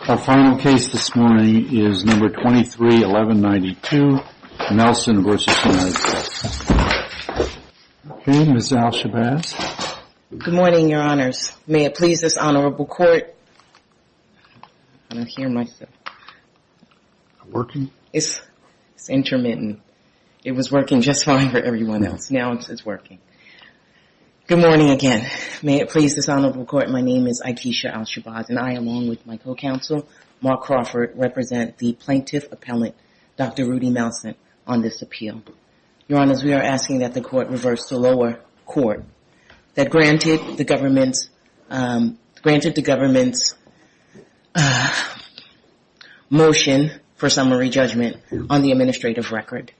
Our final case this morning is No. 23-1192, Melson v. United States. Okay, Ms. Al-Shabazz. Good morning, Your Honors. May it please this honorable court... I don't hear myself. Working? It's intermittent. It was working just fine for everyone else. Now it's working. Good morning again. May it please this honorable court. My name is Aikisha Al-Shabazz, and I, along with my co-counsel, Mark Crawford, represent the plaintiff appellant, Dr. Rudy Melson, on this appeal. Your Honors, we are asking that the court reverse the lower court that granted the government's motion for summary judgment on the administrative record.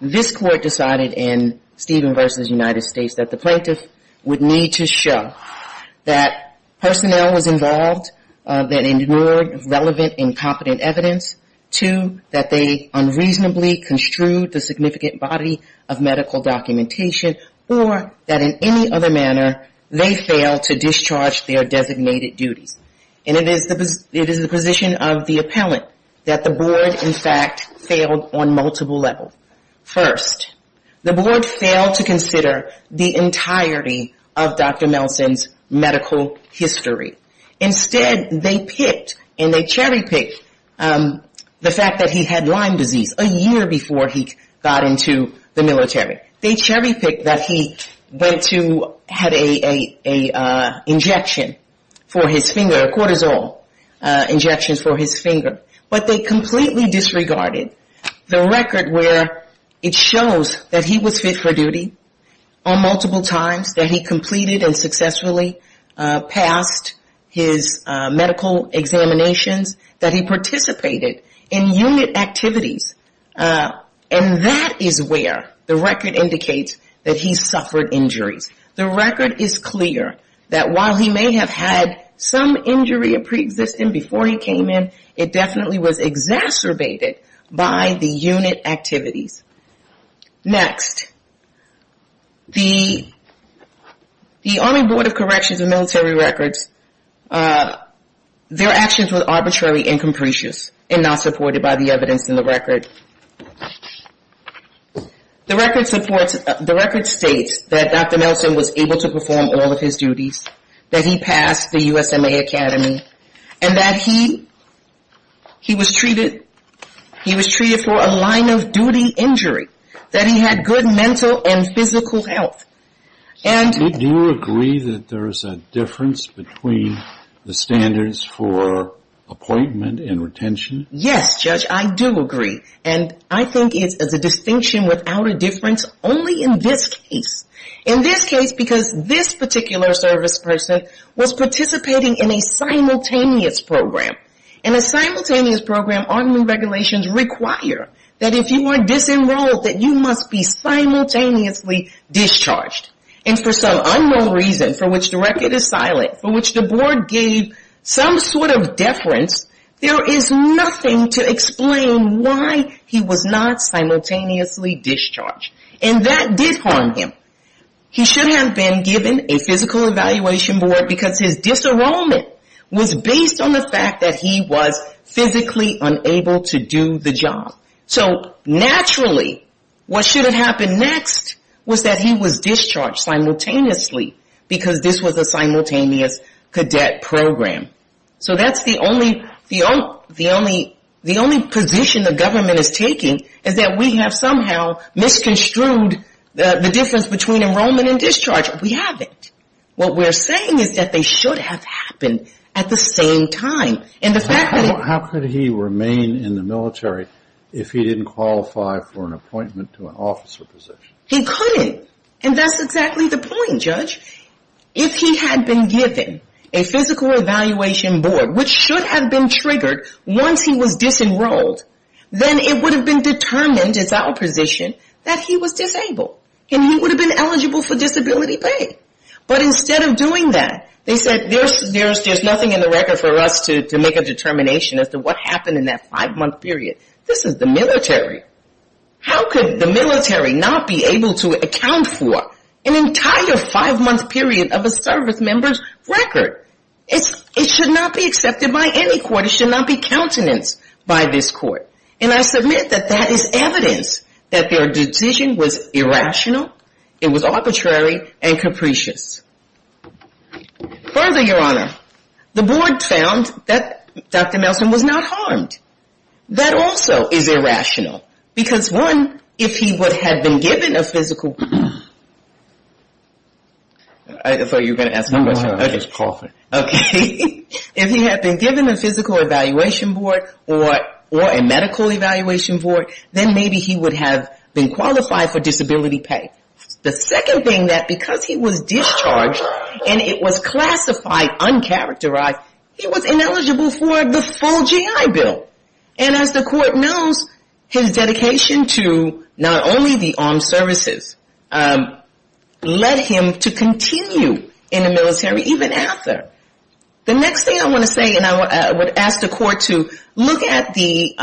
This court decided in Steven v. United States that the plaintiff would need to show that personnel was involved that ignored relevant and competent evidence, two, that they unreasonably construed the significant body of medical documentation, or that in any other manner they failed to discharge their designated duties. And it is the position of the appellant that the board, in fact, failed on multiple levels. First, the board failed to consider the entirety of Dr. Melson's medical history. Instead, they picked and they cherry-picked the fact that he had Lyme disease a year before he got into the military. They cherry-picked that he had an injection for his finger, a cortisol injection for his finger. But they completely disregarded the record where it shows that he was fit for duty on multiple times, that he completed and successfully passed his medical examinations, that he participated in unit activities. And that is where the record indicates that he suffered injuries. The record is clear that while he may have had some injury pre-existing before he came in, it definitely was exacerbated by the unit activities. Next, the Army Board of Corrections and Military Records, their actions were arbitrary and capricious and not supported by the evidence in the record. The record states that Dr. Melson was able to perform all of his duties, that he passed the USMA Academy, and that he was treated for a line-of-duty injury, that he had good mental and physical health. Do you agree that there is a difference between the standards for appointment and retention? Yes, Judge, I do agree. And I think it's a distinction without a difference only in this case. In this case, because this particular service person was participating in a simultaneous program. In a simultaneous program, Army regulations require that if you are disenrolled, that you must be simultaneously discharged. And for some unknown reason, for which the record is silent, for which the board gave some sort of deference, there is nothing to explain why he was not simultaneously discharged. And that did harm him. He should have been given a physical evaluation board because his disenrollment was based on the fact that he was physically unable to do the job. So naturally, what should have happened next was that he was discharged simultaneously because this was a simultaneous cadet program. So that's the only position the government is taking, is that we have somehow misconstrued the difference between enrollment and discharge. We haven't. What we're saying is that they should have happened at the same time. How could he remain in the military if he didn't qualify for an appointment to an officer position? He couldn't. And that's exactly the point, Judge. If he had been given a physical evaluation board, which should have been triggered once he was disenrolled, then it would have been determined, it's our position, that he was disabled. And he would have been eligible for disability pay. But instead of doing that, they said there's nothing in the record for us to make a determination as to what happened in that five-month period. This is the military. How could the military not be able to account for an entire five-month period of a service member's record? It should not be accepted by any court. It should not be countenance by this court. And I submit that that is evidence that their decision was irrational. It was arbitrary and capricious. Further, Your Honor, the board found that Dr. Nelson was not harmed. That also is irrational. Because, one, if he had been given a physical evaluation board or a medical evaluation board, then maybe he would have been qualified for disability pay. The second thing, that because he was discharged and it was classified, uncharacterized, he was ineligible for the full GI Bill. And as the court knows, his dedication to not only the armed services led him to continue in the military even after. The next thing I want to say, and I would ask the court to look at the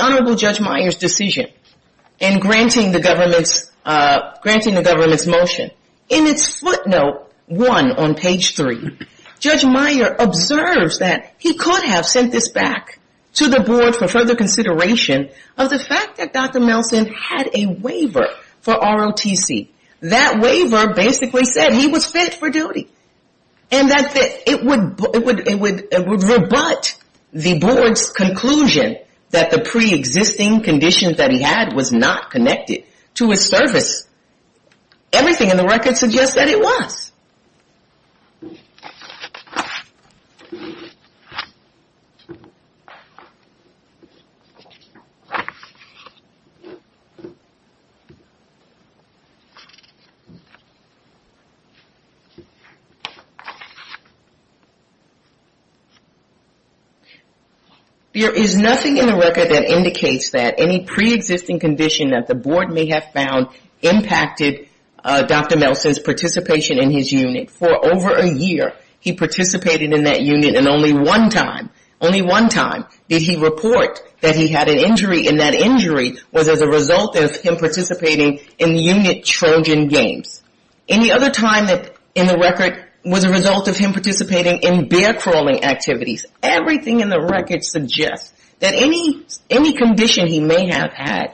Honorable Judge Meyer's decision in granting the government's motion. In its footnote one on page three, Judge Meyer observes that he could have sent this back to the board for further consideration of the fact that Dr. Nelson had a waiver for ROTC. That waiver basically said he was fit for duty. And that it would rebut the board's conclusion that the preexisting conditions that he had was not connected to his service. Everything in the record suggests that it was. There is nothing in the record that indicates that any preexisting condition that the board may have found impacted Dr. Nelson's participation in his unit. For over a year, he participated in that unit and only one time, only one time, did he report that he had an injury in his leg. And that injury was as a result of him participating in unit Trojan games. Any other time in the record was a result of him participating in bear crawling activities. Everything in the record suggests that any condition he may have had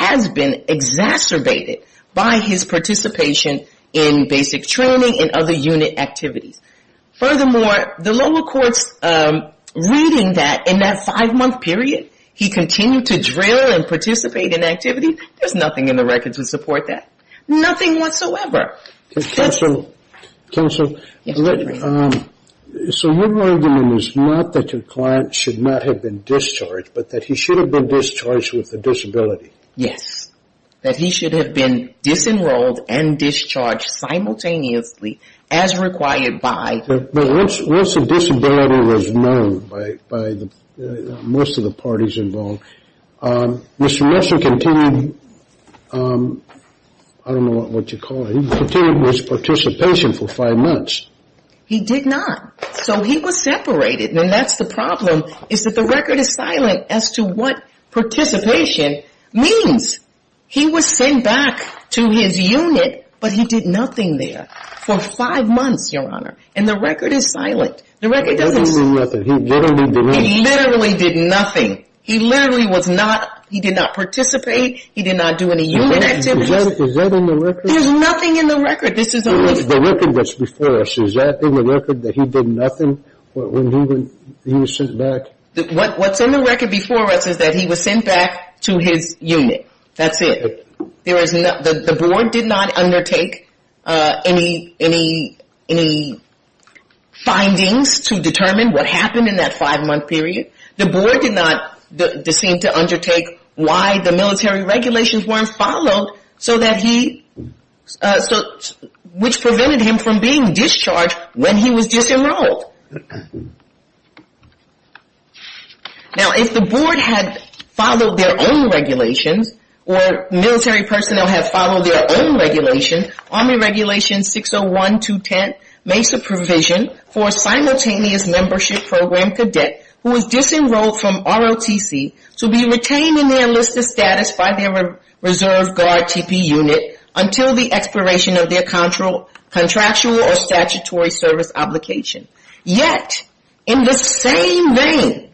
has been exacerbated by his participation in basic training and other unit activities. Furthermore, the lower courts reading that in that five-month period, he continued to drill and participate in activity, there's nothing in the record to support that. Nothing whatsoever. Counsel, so what you're arguing is not that your client should not have been discharged, but that he should have been discharged with a disability. Yes. But once the disability was known by most of the parties involved, Mr. Nelson continued, I don't know what you call it, he continued his participation for five months. He did not. So he was separated and that's the problem is that the record is silent as to what participation means. He was sent back to his unit, but he did nothing there for five months, Your Honor. And the record is silent. He literally did nothing. He literally was not, he did not participate. He did not do any unit activities. Is that in the record? There's nothing in the record. The record that's before us, is that in the record that he did nothing when he was sent back? What's in the record before us is that he was sent back to his unit. That's it. The board did not undertake any findings to determine what happened in that five-month period. The board did not seem to undertake why the military regulations weren't followed so that he, which prevented him from being discharged when he was disenrolled. Now if the board had followed their own regulations or military personnel had followed their own regulations, Army Regulations 601-210 makes a provision for a simultaneous membership program cadet who was disenrolled. from ROTC to be retained in their enlisted status by their reserve guard TP unit until the expiration of their contractual or statutory service obligation. Yet, in the same vein,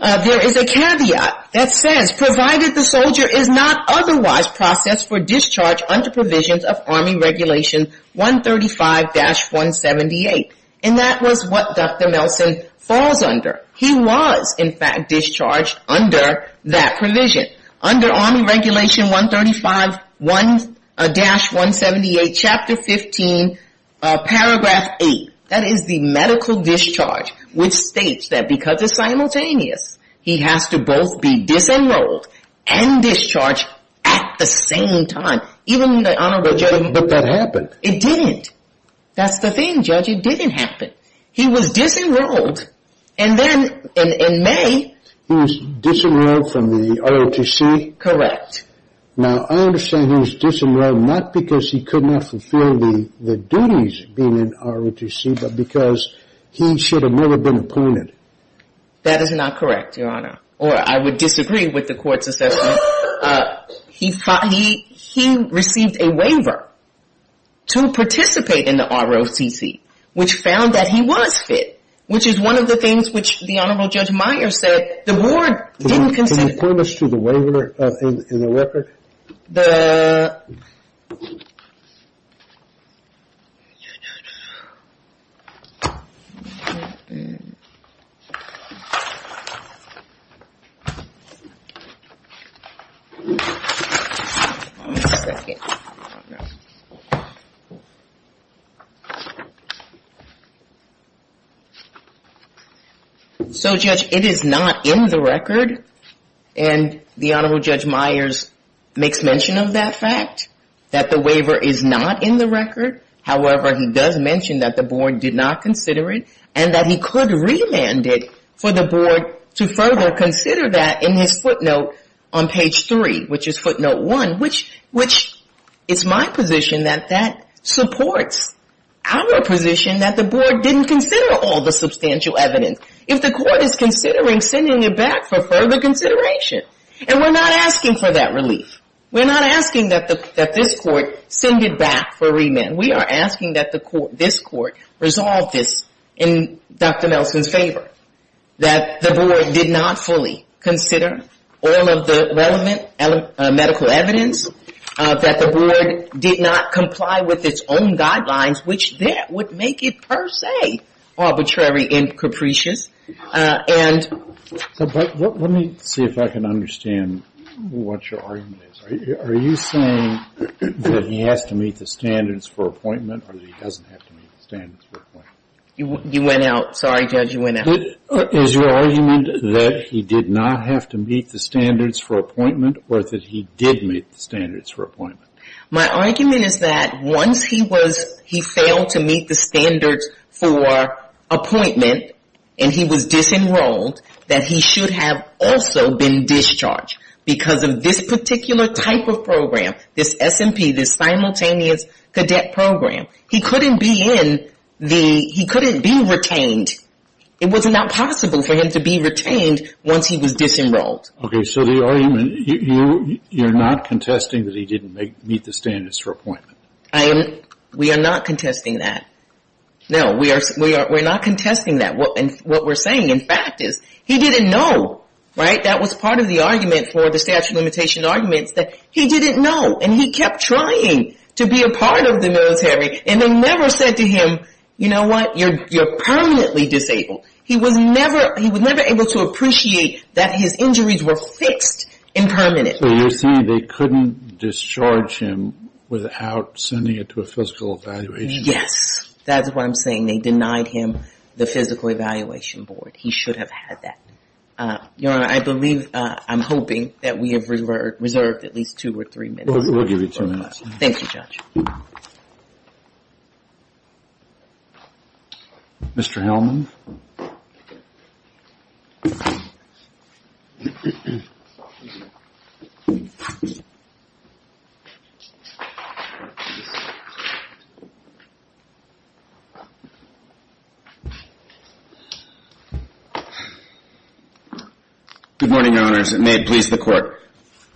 there is a caveat that says provided the soldier is not otherwise processed for discharge under provisions of Army Regulation 135-178. And that was what Dr. Nelson falls under. He was, in fact, discharged under that provision. Under Army Regulation 135-178, Chapter 15, Paragraph 8, that is the medical discharge, which states that because it's simultaneous, he has to both be disenrolled and discharged at the same time. But that happened. It didn't. That's the thing, Judge. It didn't happen. He was disenrolled and then in May... He was disenrolled from the ROTC? Correct. Now I understand he was disenrolled not because he could not fulfill the duties being in ROTC, but because he should have never been appointed. That is not correct, Your Honor. Or I would disagree with the court's assessment. He received a waiver to participate in the ROTC, which found that he was fit, which is one of the things which the Honorable Judge Meyer said the board didn't consider. Can you point us to the waiver in the record? So, Judge, it is not in the record, and the Honorable Judge Meyer makes mention of that fact, that the waiver is not in the record. However, he does mention that the board did not consider it, and that he could remand it for the board to further consider that in his footnote on page three, which is footnote one, which is my position that that supports our position that the board didn't consider all the substantial evidence. If the court is considering sending it back for further consideration, and we're not asking for that relief. We're not asking that this court send it back for remand. We are asking that this court resolve this in Dr. Nelson's favor, that the board did not fully consider all of the relevant medical evidence, that the board did not comply with its own guidelines, which there would make it per se arbitrary and capricious. But let me see if I can understand what your argument is. Are you saying that he has to meet the standards for appointment, or that he doesn't have to meet the standards for appointment? You went out. Sorry, Judge, you went out. Is your argument that he did not have to meet the standards for appointment, or that he did meet the standards for appointment? My argument is that once he failed to meet the standards for appointment, and he was disenrolled, that he should have also been discharged because of this particular type of program, this SMP, this Simultaneous Cadet Program. He couldn't be retained. It was not possible for him to be retained once he was disenrolled. Okay, so the argument, you're not contesting that he didn't meet the standards for appointment. We are not contesting that. No, we are not contesting that. What we're saying, in fact, is he didn't know. That was part of the argument for the statute of limitations arguments, that he didn't know. And he kept trying to be a part of the military, and they never said to him, you know what, you're permanently disabled. He was never able to appreciate that his injuries were fixed and permanent. So you're saying they couldn't discharge him without sending it to a physical evaluation? Yes, that's what I'm saying. They denied him the physical evaluation board. He should have had that. Your Honor, I believe, I'm hoping that we have reserved at least two or three minutes. We'll give you two minutes. Mr. Hellman. Good morning, Your Honors, and may it please the Court.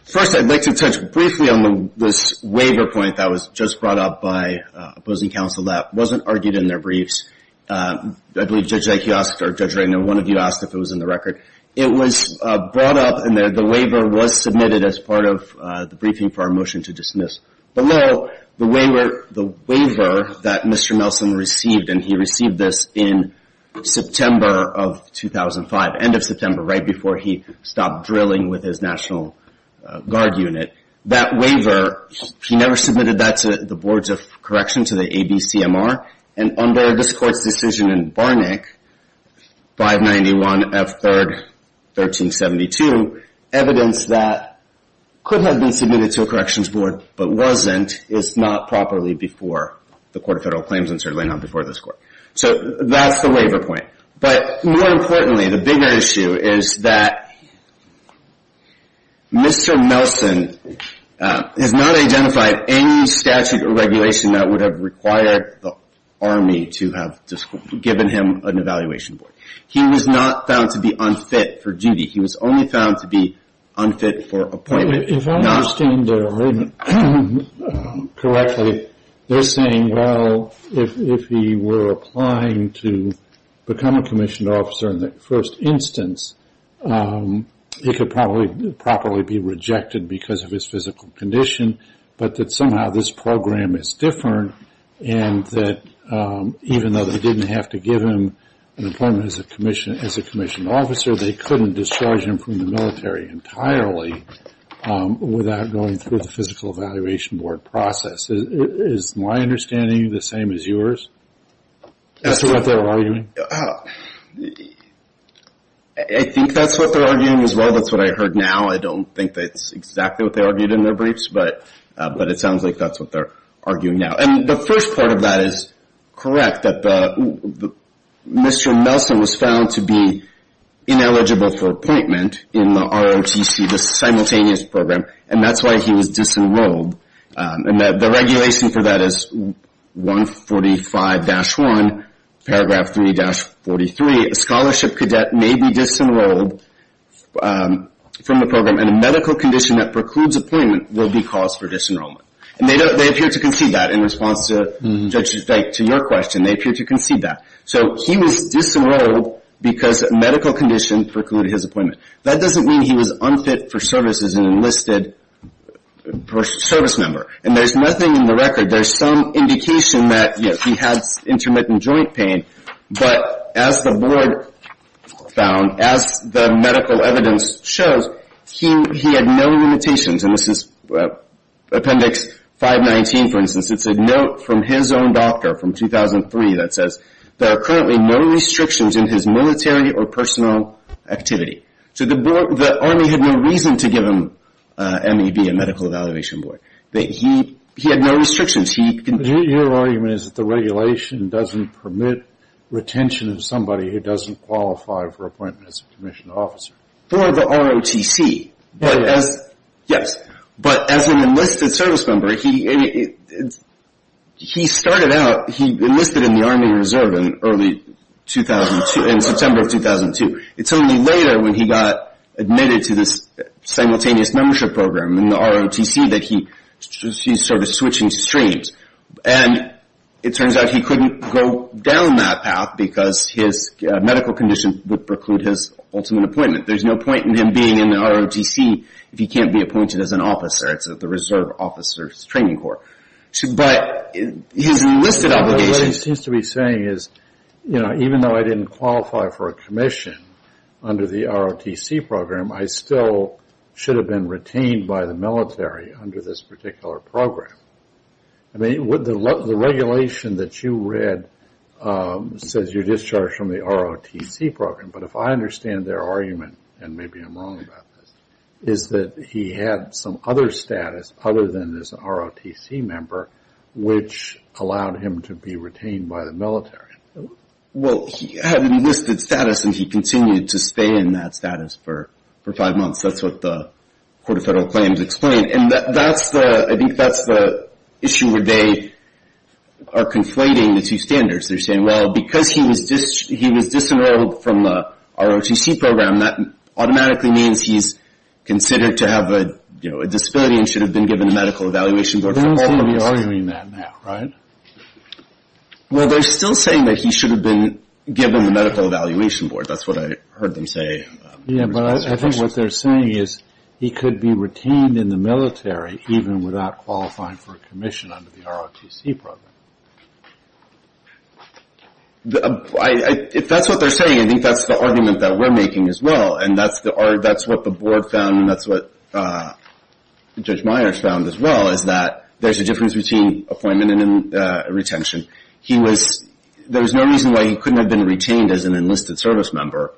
First, I'd like to touch briefly on this waiver point that was just brought up by opposing counsel that wasn't argued in their briefs. I believe Judge Eich, or Judge Raynor, one of you asked if it was in the record. It was brought up, and the waiver was submitted as part of the briefing for our motion to dismiss. Below, the waiver that Mr. Nelson received, and he received this in September of 2005, end of September, right before he stopped drilling with his National Guard unit. That waiver, he never submitted that to the boards of correction, to the ABCMR, and under this Court's decision in Barnick, 591 F. 3rd, 1372, evidence that could have been submitted to a corrections board but wasn't is not properly before the Court of Federal Claims, and certainly not before this Court. So that's the waiver point, but more importantly, the bigger issue is that Mr. Nelson has not identified any statute or regulation that would have required the Army to have given him an evaluation board. He was not found to be unfit for duty. He was only found to be unfit for appointment. If I understand correctly, they're saying, well, if he were applying to become a commissioned officer in the first instance, he could probably be rejected because of his physical condition, but that somehow this program is different, and that even though they didn't have to give him an appointment as a commissioned officer, they couldn't discharge him from the military entirely without going through the physical evaluation board process. Is my understanding the same as yours as to what they're arguing? I think that's what they're arguing as well. That's what I heard now. I don't think that's exactly what they argued in their briefs, but it sounds like that's what they're arguing now. The first part of that is correct, that Mr. Nelson was found to be ineligible for appointment in the ROTC, the simultaneous program, and that's why he was disenrolled. The regulation for that is 145-1, paragraph 3-43, a scholarship cadet may be disenrolled from the program, and a medical condition that precludes appointment will be cause for disenrollment. In response to your question, they appear to concede that. So he was disenrolled because a medical condition precluded his appointment. That doesn't mean he was unfit for service as an enlisted service member, and there's nothing in the record. There's some indication that he had intermittent joint pain, but as the board found, as the medical evidence shows, he had no limitations, and this is appendix 519, for instance. It's a note from his own doctor from 2003 that says there are currently no restrictions in his military or personal activity. So the Army had no reason to give him MEB, a medical evaluation board. He had no restrictions. Your argument is that the regulation doesn't permit retention of somebody who doesn't qualify for appointment as a commissioned officer. For the ROTC, yes. But as an enlisted service member, he started out, he enlisted in the Army Reserve in early 2002, in September of 2002. It's only later when he got admitted to this simultaneous membership program in the ROTC that he started switching streams. And it turns out he couldn't go down that path because his medical condition would preclude his ultimate appointment. There's no point in him being in the ROTC if he can't be appointed as an officer. It's the Reserve Officers Training Corps. But his enlisted obligation... Even though I didn't qualify for a commission under the ROTC program, I still should have been retained by the military under this particular program. The regulation that you read says you're discharged from the ROTC program. But if I understand their argument, and maybe I'm wrong about this, is that he had some other status other than this ROTC member, which allowed him to be retained by the military. Well, he had enlisted status and he continued to stay in that status for five months. That's what the Court of Federal Claims explained. And I think that's the issue where they are conflating the two standards. They're saying, well, because he was disenrolled from the ROTC program, that automatically means he's considered to have a disability and should have been given the Medical Evaluation Board. They're not going to be arguing that now, right? Well, they're still saying that he should have been given the Medical Evaluation Board. That's what I heard them say. Yeah, but I think what they're saying is he could be retained in the military even without qualifying for a commission under the ROTC program. If that's what they're saying, I think that's the argument that we're making as well. And that's what the Board found and that's what Judge Myers found as well, is that there's a difference between appointment and retention. There was no reason why he couldn't have been retained as an enlisted service member.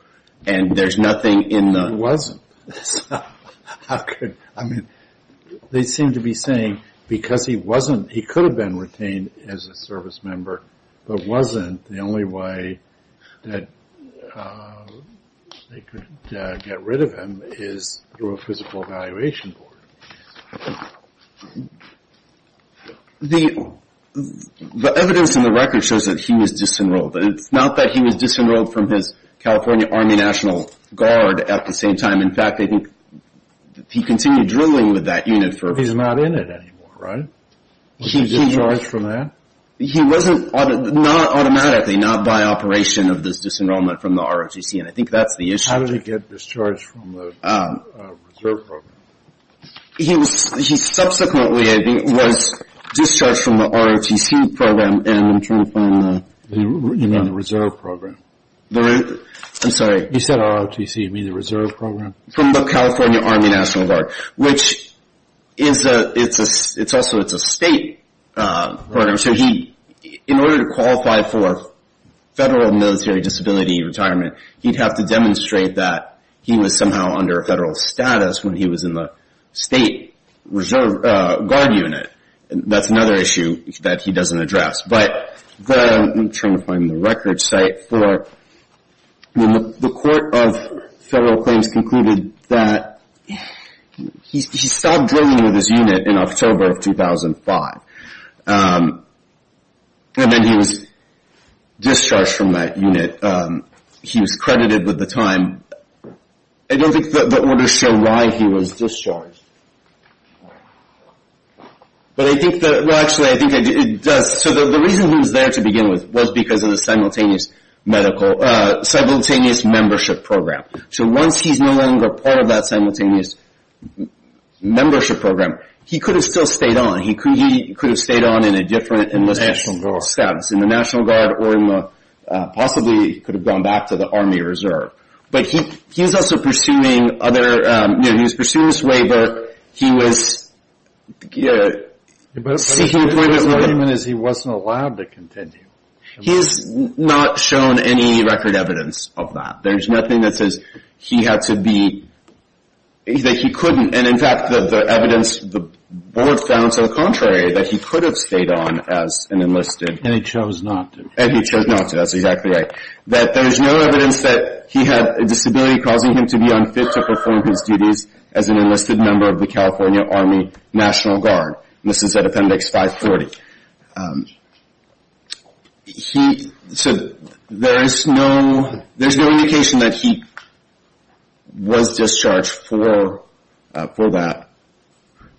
He wasn't. They seem to be saying because he could have been retained as a service member, but wasn't, the only way that they could get rid of him is through a Physical Evaluation Board. The evidence in the record shows that he was disenrolled. It's not that he was disenrolled from his California Army National Guard at the same time. In fact, I think he continued drilling with that unit. He's not in it anymore, right? He was discharged from that? He wasn't, not automatically, not by operation of this disenrollment from the ROTC, and I think that's the issue. How did he get discharged from the Reserve Program? He subsequently was discharged from the ROTC program. You mean the Reserve Program? I'm sorry. You said ROTC, you mean the Reserve Program? From the California Army National Guard, which it's also a state program. In order to qualify for federal military disability retirement, he'd have to demonstrate that he was somehow under federal status when he was in the state reserve guard unit. That's another issue that he doesn't address. I'm trying to find the record site. The Court of Federal Claims concluded that he stopped drilling with his unit in October of 2005, and then he was discharged from that unit. He was credited with the time. I don't think the orders show why he was discharged. Actually, I think it does. The reason he was there to begin with was because of the simultaneous membership program. Once he's no longer part of that simultaneous membership program, he could have still stayed on. He could have stayed on in a different enlistment status in the National Guard, or possibly he could have gone back to the Army Reserve. But he was also pursuing other—he was pursuing this waiver. He was seeking employment— But his argument is he wasn't allowed to continue. He's not shown any record evidence of that. There's nothing that says he had to be—that he couldn't. And, in fact, the evidence the board found to the contrary, that he could have stayed on as an enlisted— And he chose not to. And he chose not to. That's exactly right. That there's no evidence that he had a disability causing him to be unfit to perform his duties as an enlisted member of the California Army National Guard. And this is at Appendix 540. So there's no indication that he was discharged for that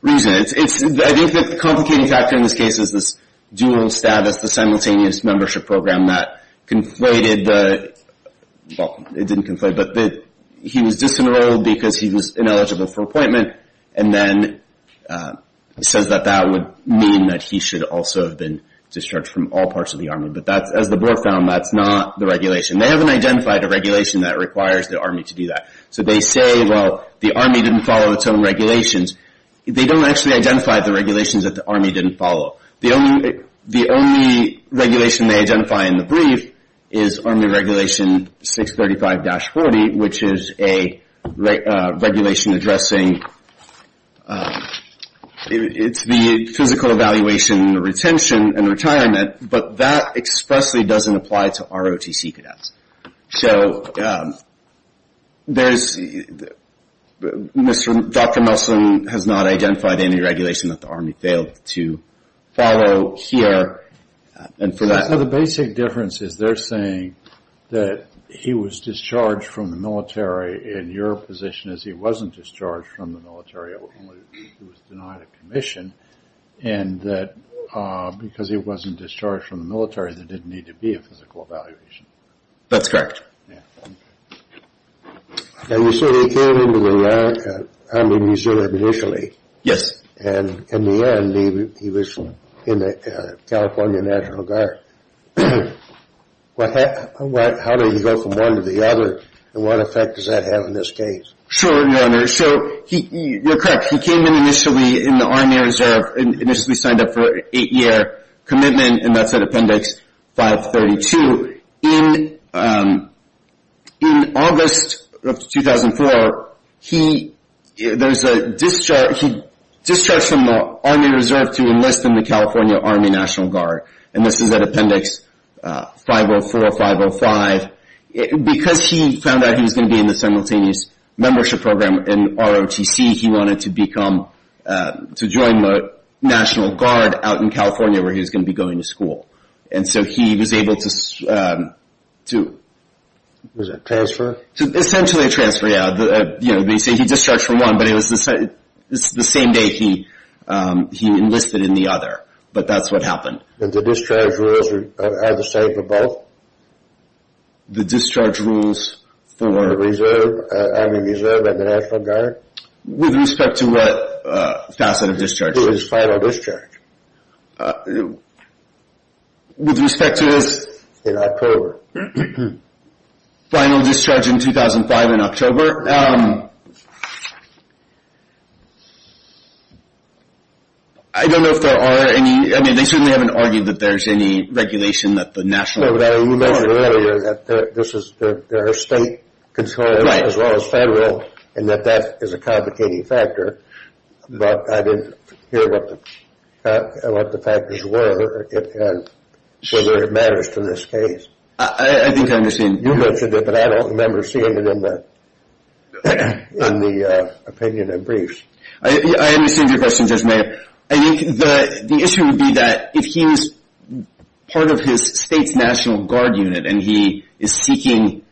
reason. I think the complicating factor in this case is this dual status, the simultaneous membership program that conflated the—well, it didn't conflate, but he was disenrolled because he was ineligible for appointment, and then says that that would mean that he should also have been discharged from all parts of the Army. But as the board found, that's not the regulation. They haven't identified a regulation that requires the Army to do that. So they say, well, the Army didn't follow its own regulations. They don't actually identify the regulations that the Army didn't follow. The only regulation they identify in the brief is Army Regulation 635-40, which is a regulation addressing—it's the physical evaluation and retention and retirement, but that expressly doesn't apply to ROTC cadets. So there's—Dr. Nelson has not identified any regulation that the Army failed to follow here. So the basic difference is they're saying that he was discharged from the military, and your position is he wasn't discharged from the military, only he was denied a commission, and that because he wasn't discharged from the military, there didn't need to be a physical evaluation. That's correct. Now, you said he came into the Army Museum initially. Yes. And in the end, he was in the California National Guard. How did he go from one to the other, and what effect does that have in this case? Sure, Your Honor. So you're correct. He came in initially in the Army Reserve, initially signed up for an eight-year commitment, and that's at Appendix 532. In August of 2004, he—there's a discharge—he discharged from the Army Reserve to enlist in the California Army National Guard, and this is at Appendix 504, 505. Because he found out he was going to be in the simultaneous membership program in ROTC, he wanted to become—to join the National Guard out in California where he was going to be going to school. And so he was able to— Was it a transfer? Essentially a transfer, yeah. You know, they say he discharged from one, but it was the same day he enlisted in the other, but that's what happened. And the discharge rules are the same for both? The discharge rules for— For the Army Reserve and the National Guard? With respect to what facet of discharge? His final discharge. With respect to his— In October. Final discharge in 2005 in October. I don't know if there are any—I mean, they certainly haven't argued that there's any regulation that the National Guard— No, but you mentioned earlier that this is—there are state controls as well as federal, and that that is a complicating factor, but I didn't hear what the factors were and whether it matters to this case. I think I'm missing— on the opinion of briefs. I understand your question, Judge Mayer. I think the issue would be that if he was part of his state's National Guard unit and he is seeking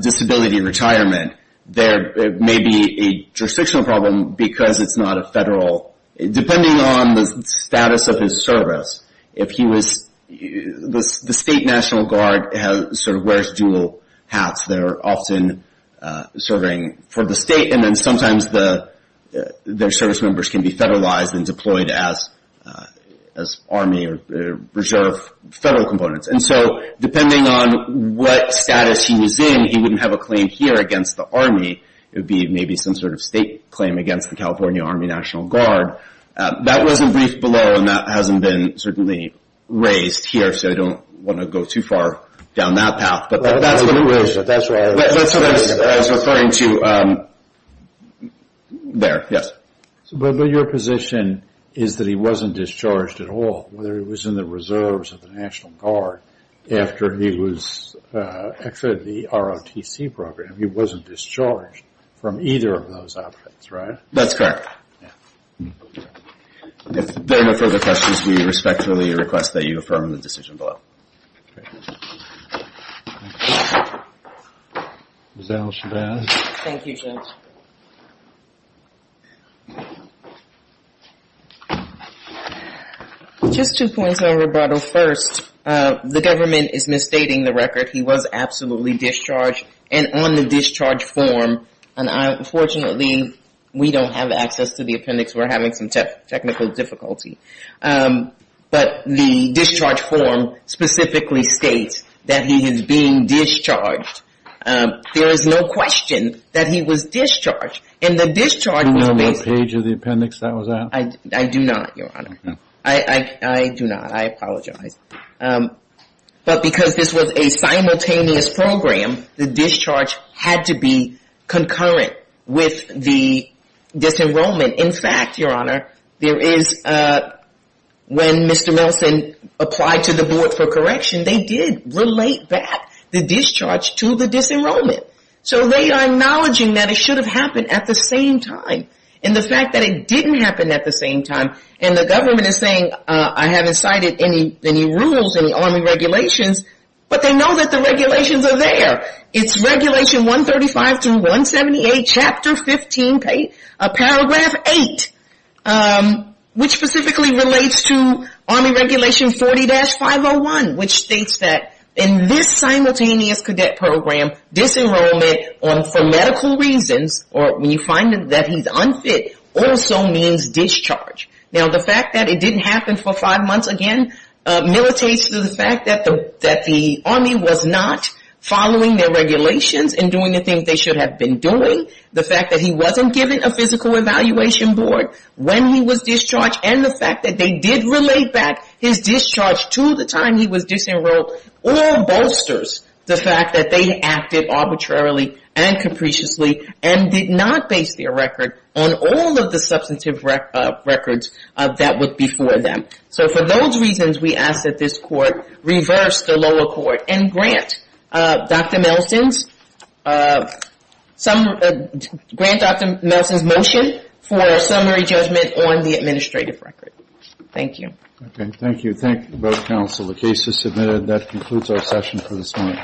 disability retirement, there may be a jurisdictional problem because it's not a federal— depending on the status of his service, if he was— the state National Guard sort of wears dual hats. They're often serving for the state, and then sometimes their service members can be federalized and deployed as Army or Reserve federal components. And so depending on what status he was in, he wouldn't have a claim here against the Army. It would be maybe some sort of state claim against the California Army National Guard. That was a brief below, and that hasn't been certainly raised here, so I don't want to go too far down that path. But that's what it was. That's what I was referring to. There, yes. But your position is that he wasn't discharged at all, whether he was in the reserves of the National Guard after he was exited the ROTC program. He wasn't discharged from either of those options, right? That's correct. If there are no further questions, we respectfully request that you affirm the decision below. Zell, should I ask? Thank you, Judge. Just two points of rebuttal. First, the government is misstating the record. He was absolutely discharged and on the discharge form, and unfortunately, we don't have access to the appendix. We're having some technical difficulty. But the discharge form specifically states that he is being discharged. There is no question that he was discharged, and the discharge was basically... Do you know what page of the appendix that was at? I do not, Your Honor. I do not. I apologize. But because this was a simultaneous program, the discharge had to be concurrent with the disenrollment. In fact, Your Honor, there is... When Mr. Nelson applied to the board for correction, they did relate back the discharge to the disenrollment. So they are acknowledging that it should have happened at the same time. And the fact that it didn't happen at the same time, and the government is saying, I haven't cited any rules, any Army regulations, but they know that the regulations are there. It's Regulation 135 through 178, Chapter 15, Paragraph 8, which specifically relates to Army Regulation 40-501, which states that in this simultaneous cadet program, disenrollment for medical reasons, or when you find that he's unfit, also means discharge. Now, the fact that it didn't happen for five months again militates to the fact that the Army was not following their regulations and doing the things they should have been doing. The fact that he wasn't given a physical evaluation board when he was discharged, and the fact that they did relate back his discharge to the time he was disenrolled all bolsters the fact that they acted arbitrarily and capriciously, and did not base their record on all of the substantive records that were before them. So for those reasons, we ask that this Court reverse the lower court and grant Dr. Melson's motion for a summary judgment on the administrative record. Thank you. Thank you. Thank you both, counsel. The case is submitted. That concludes our session for this morning.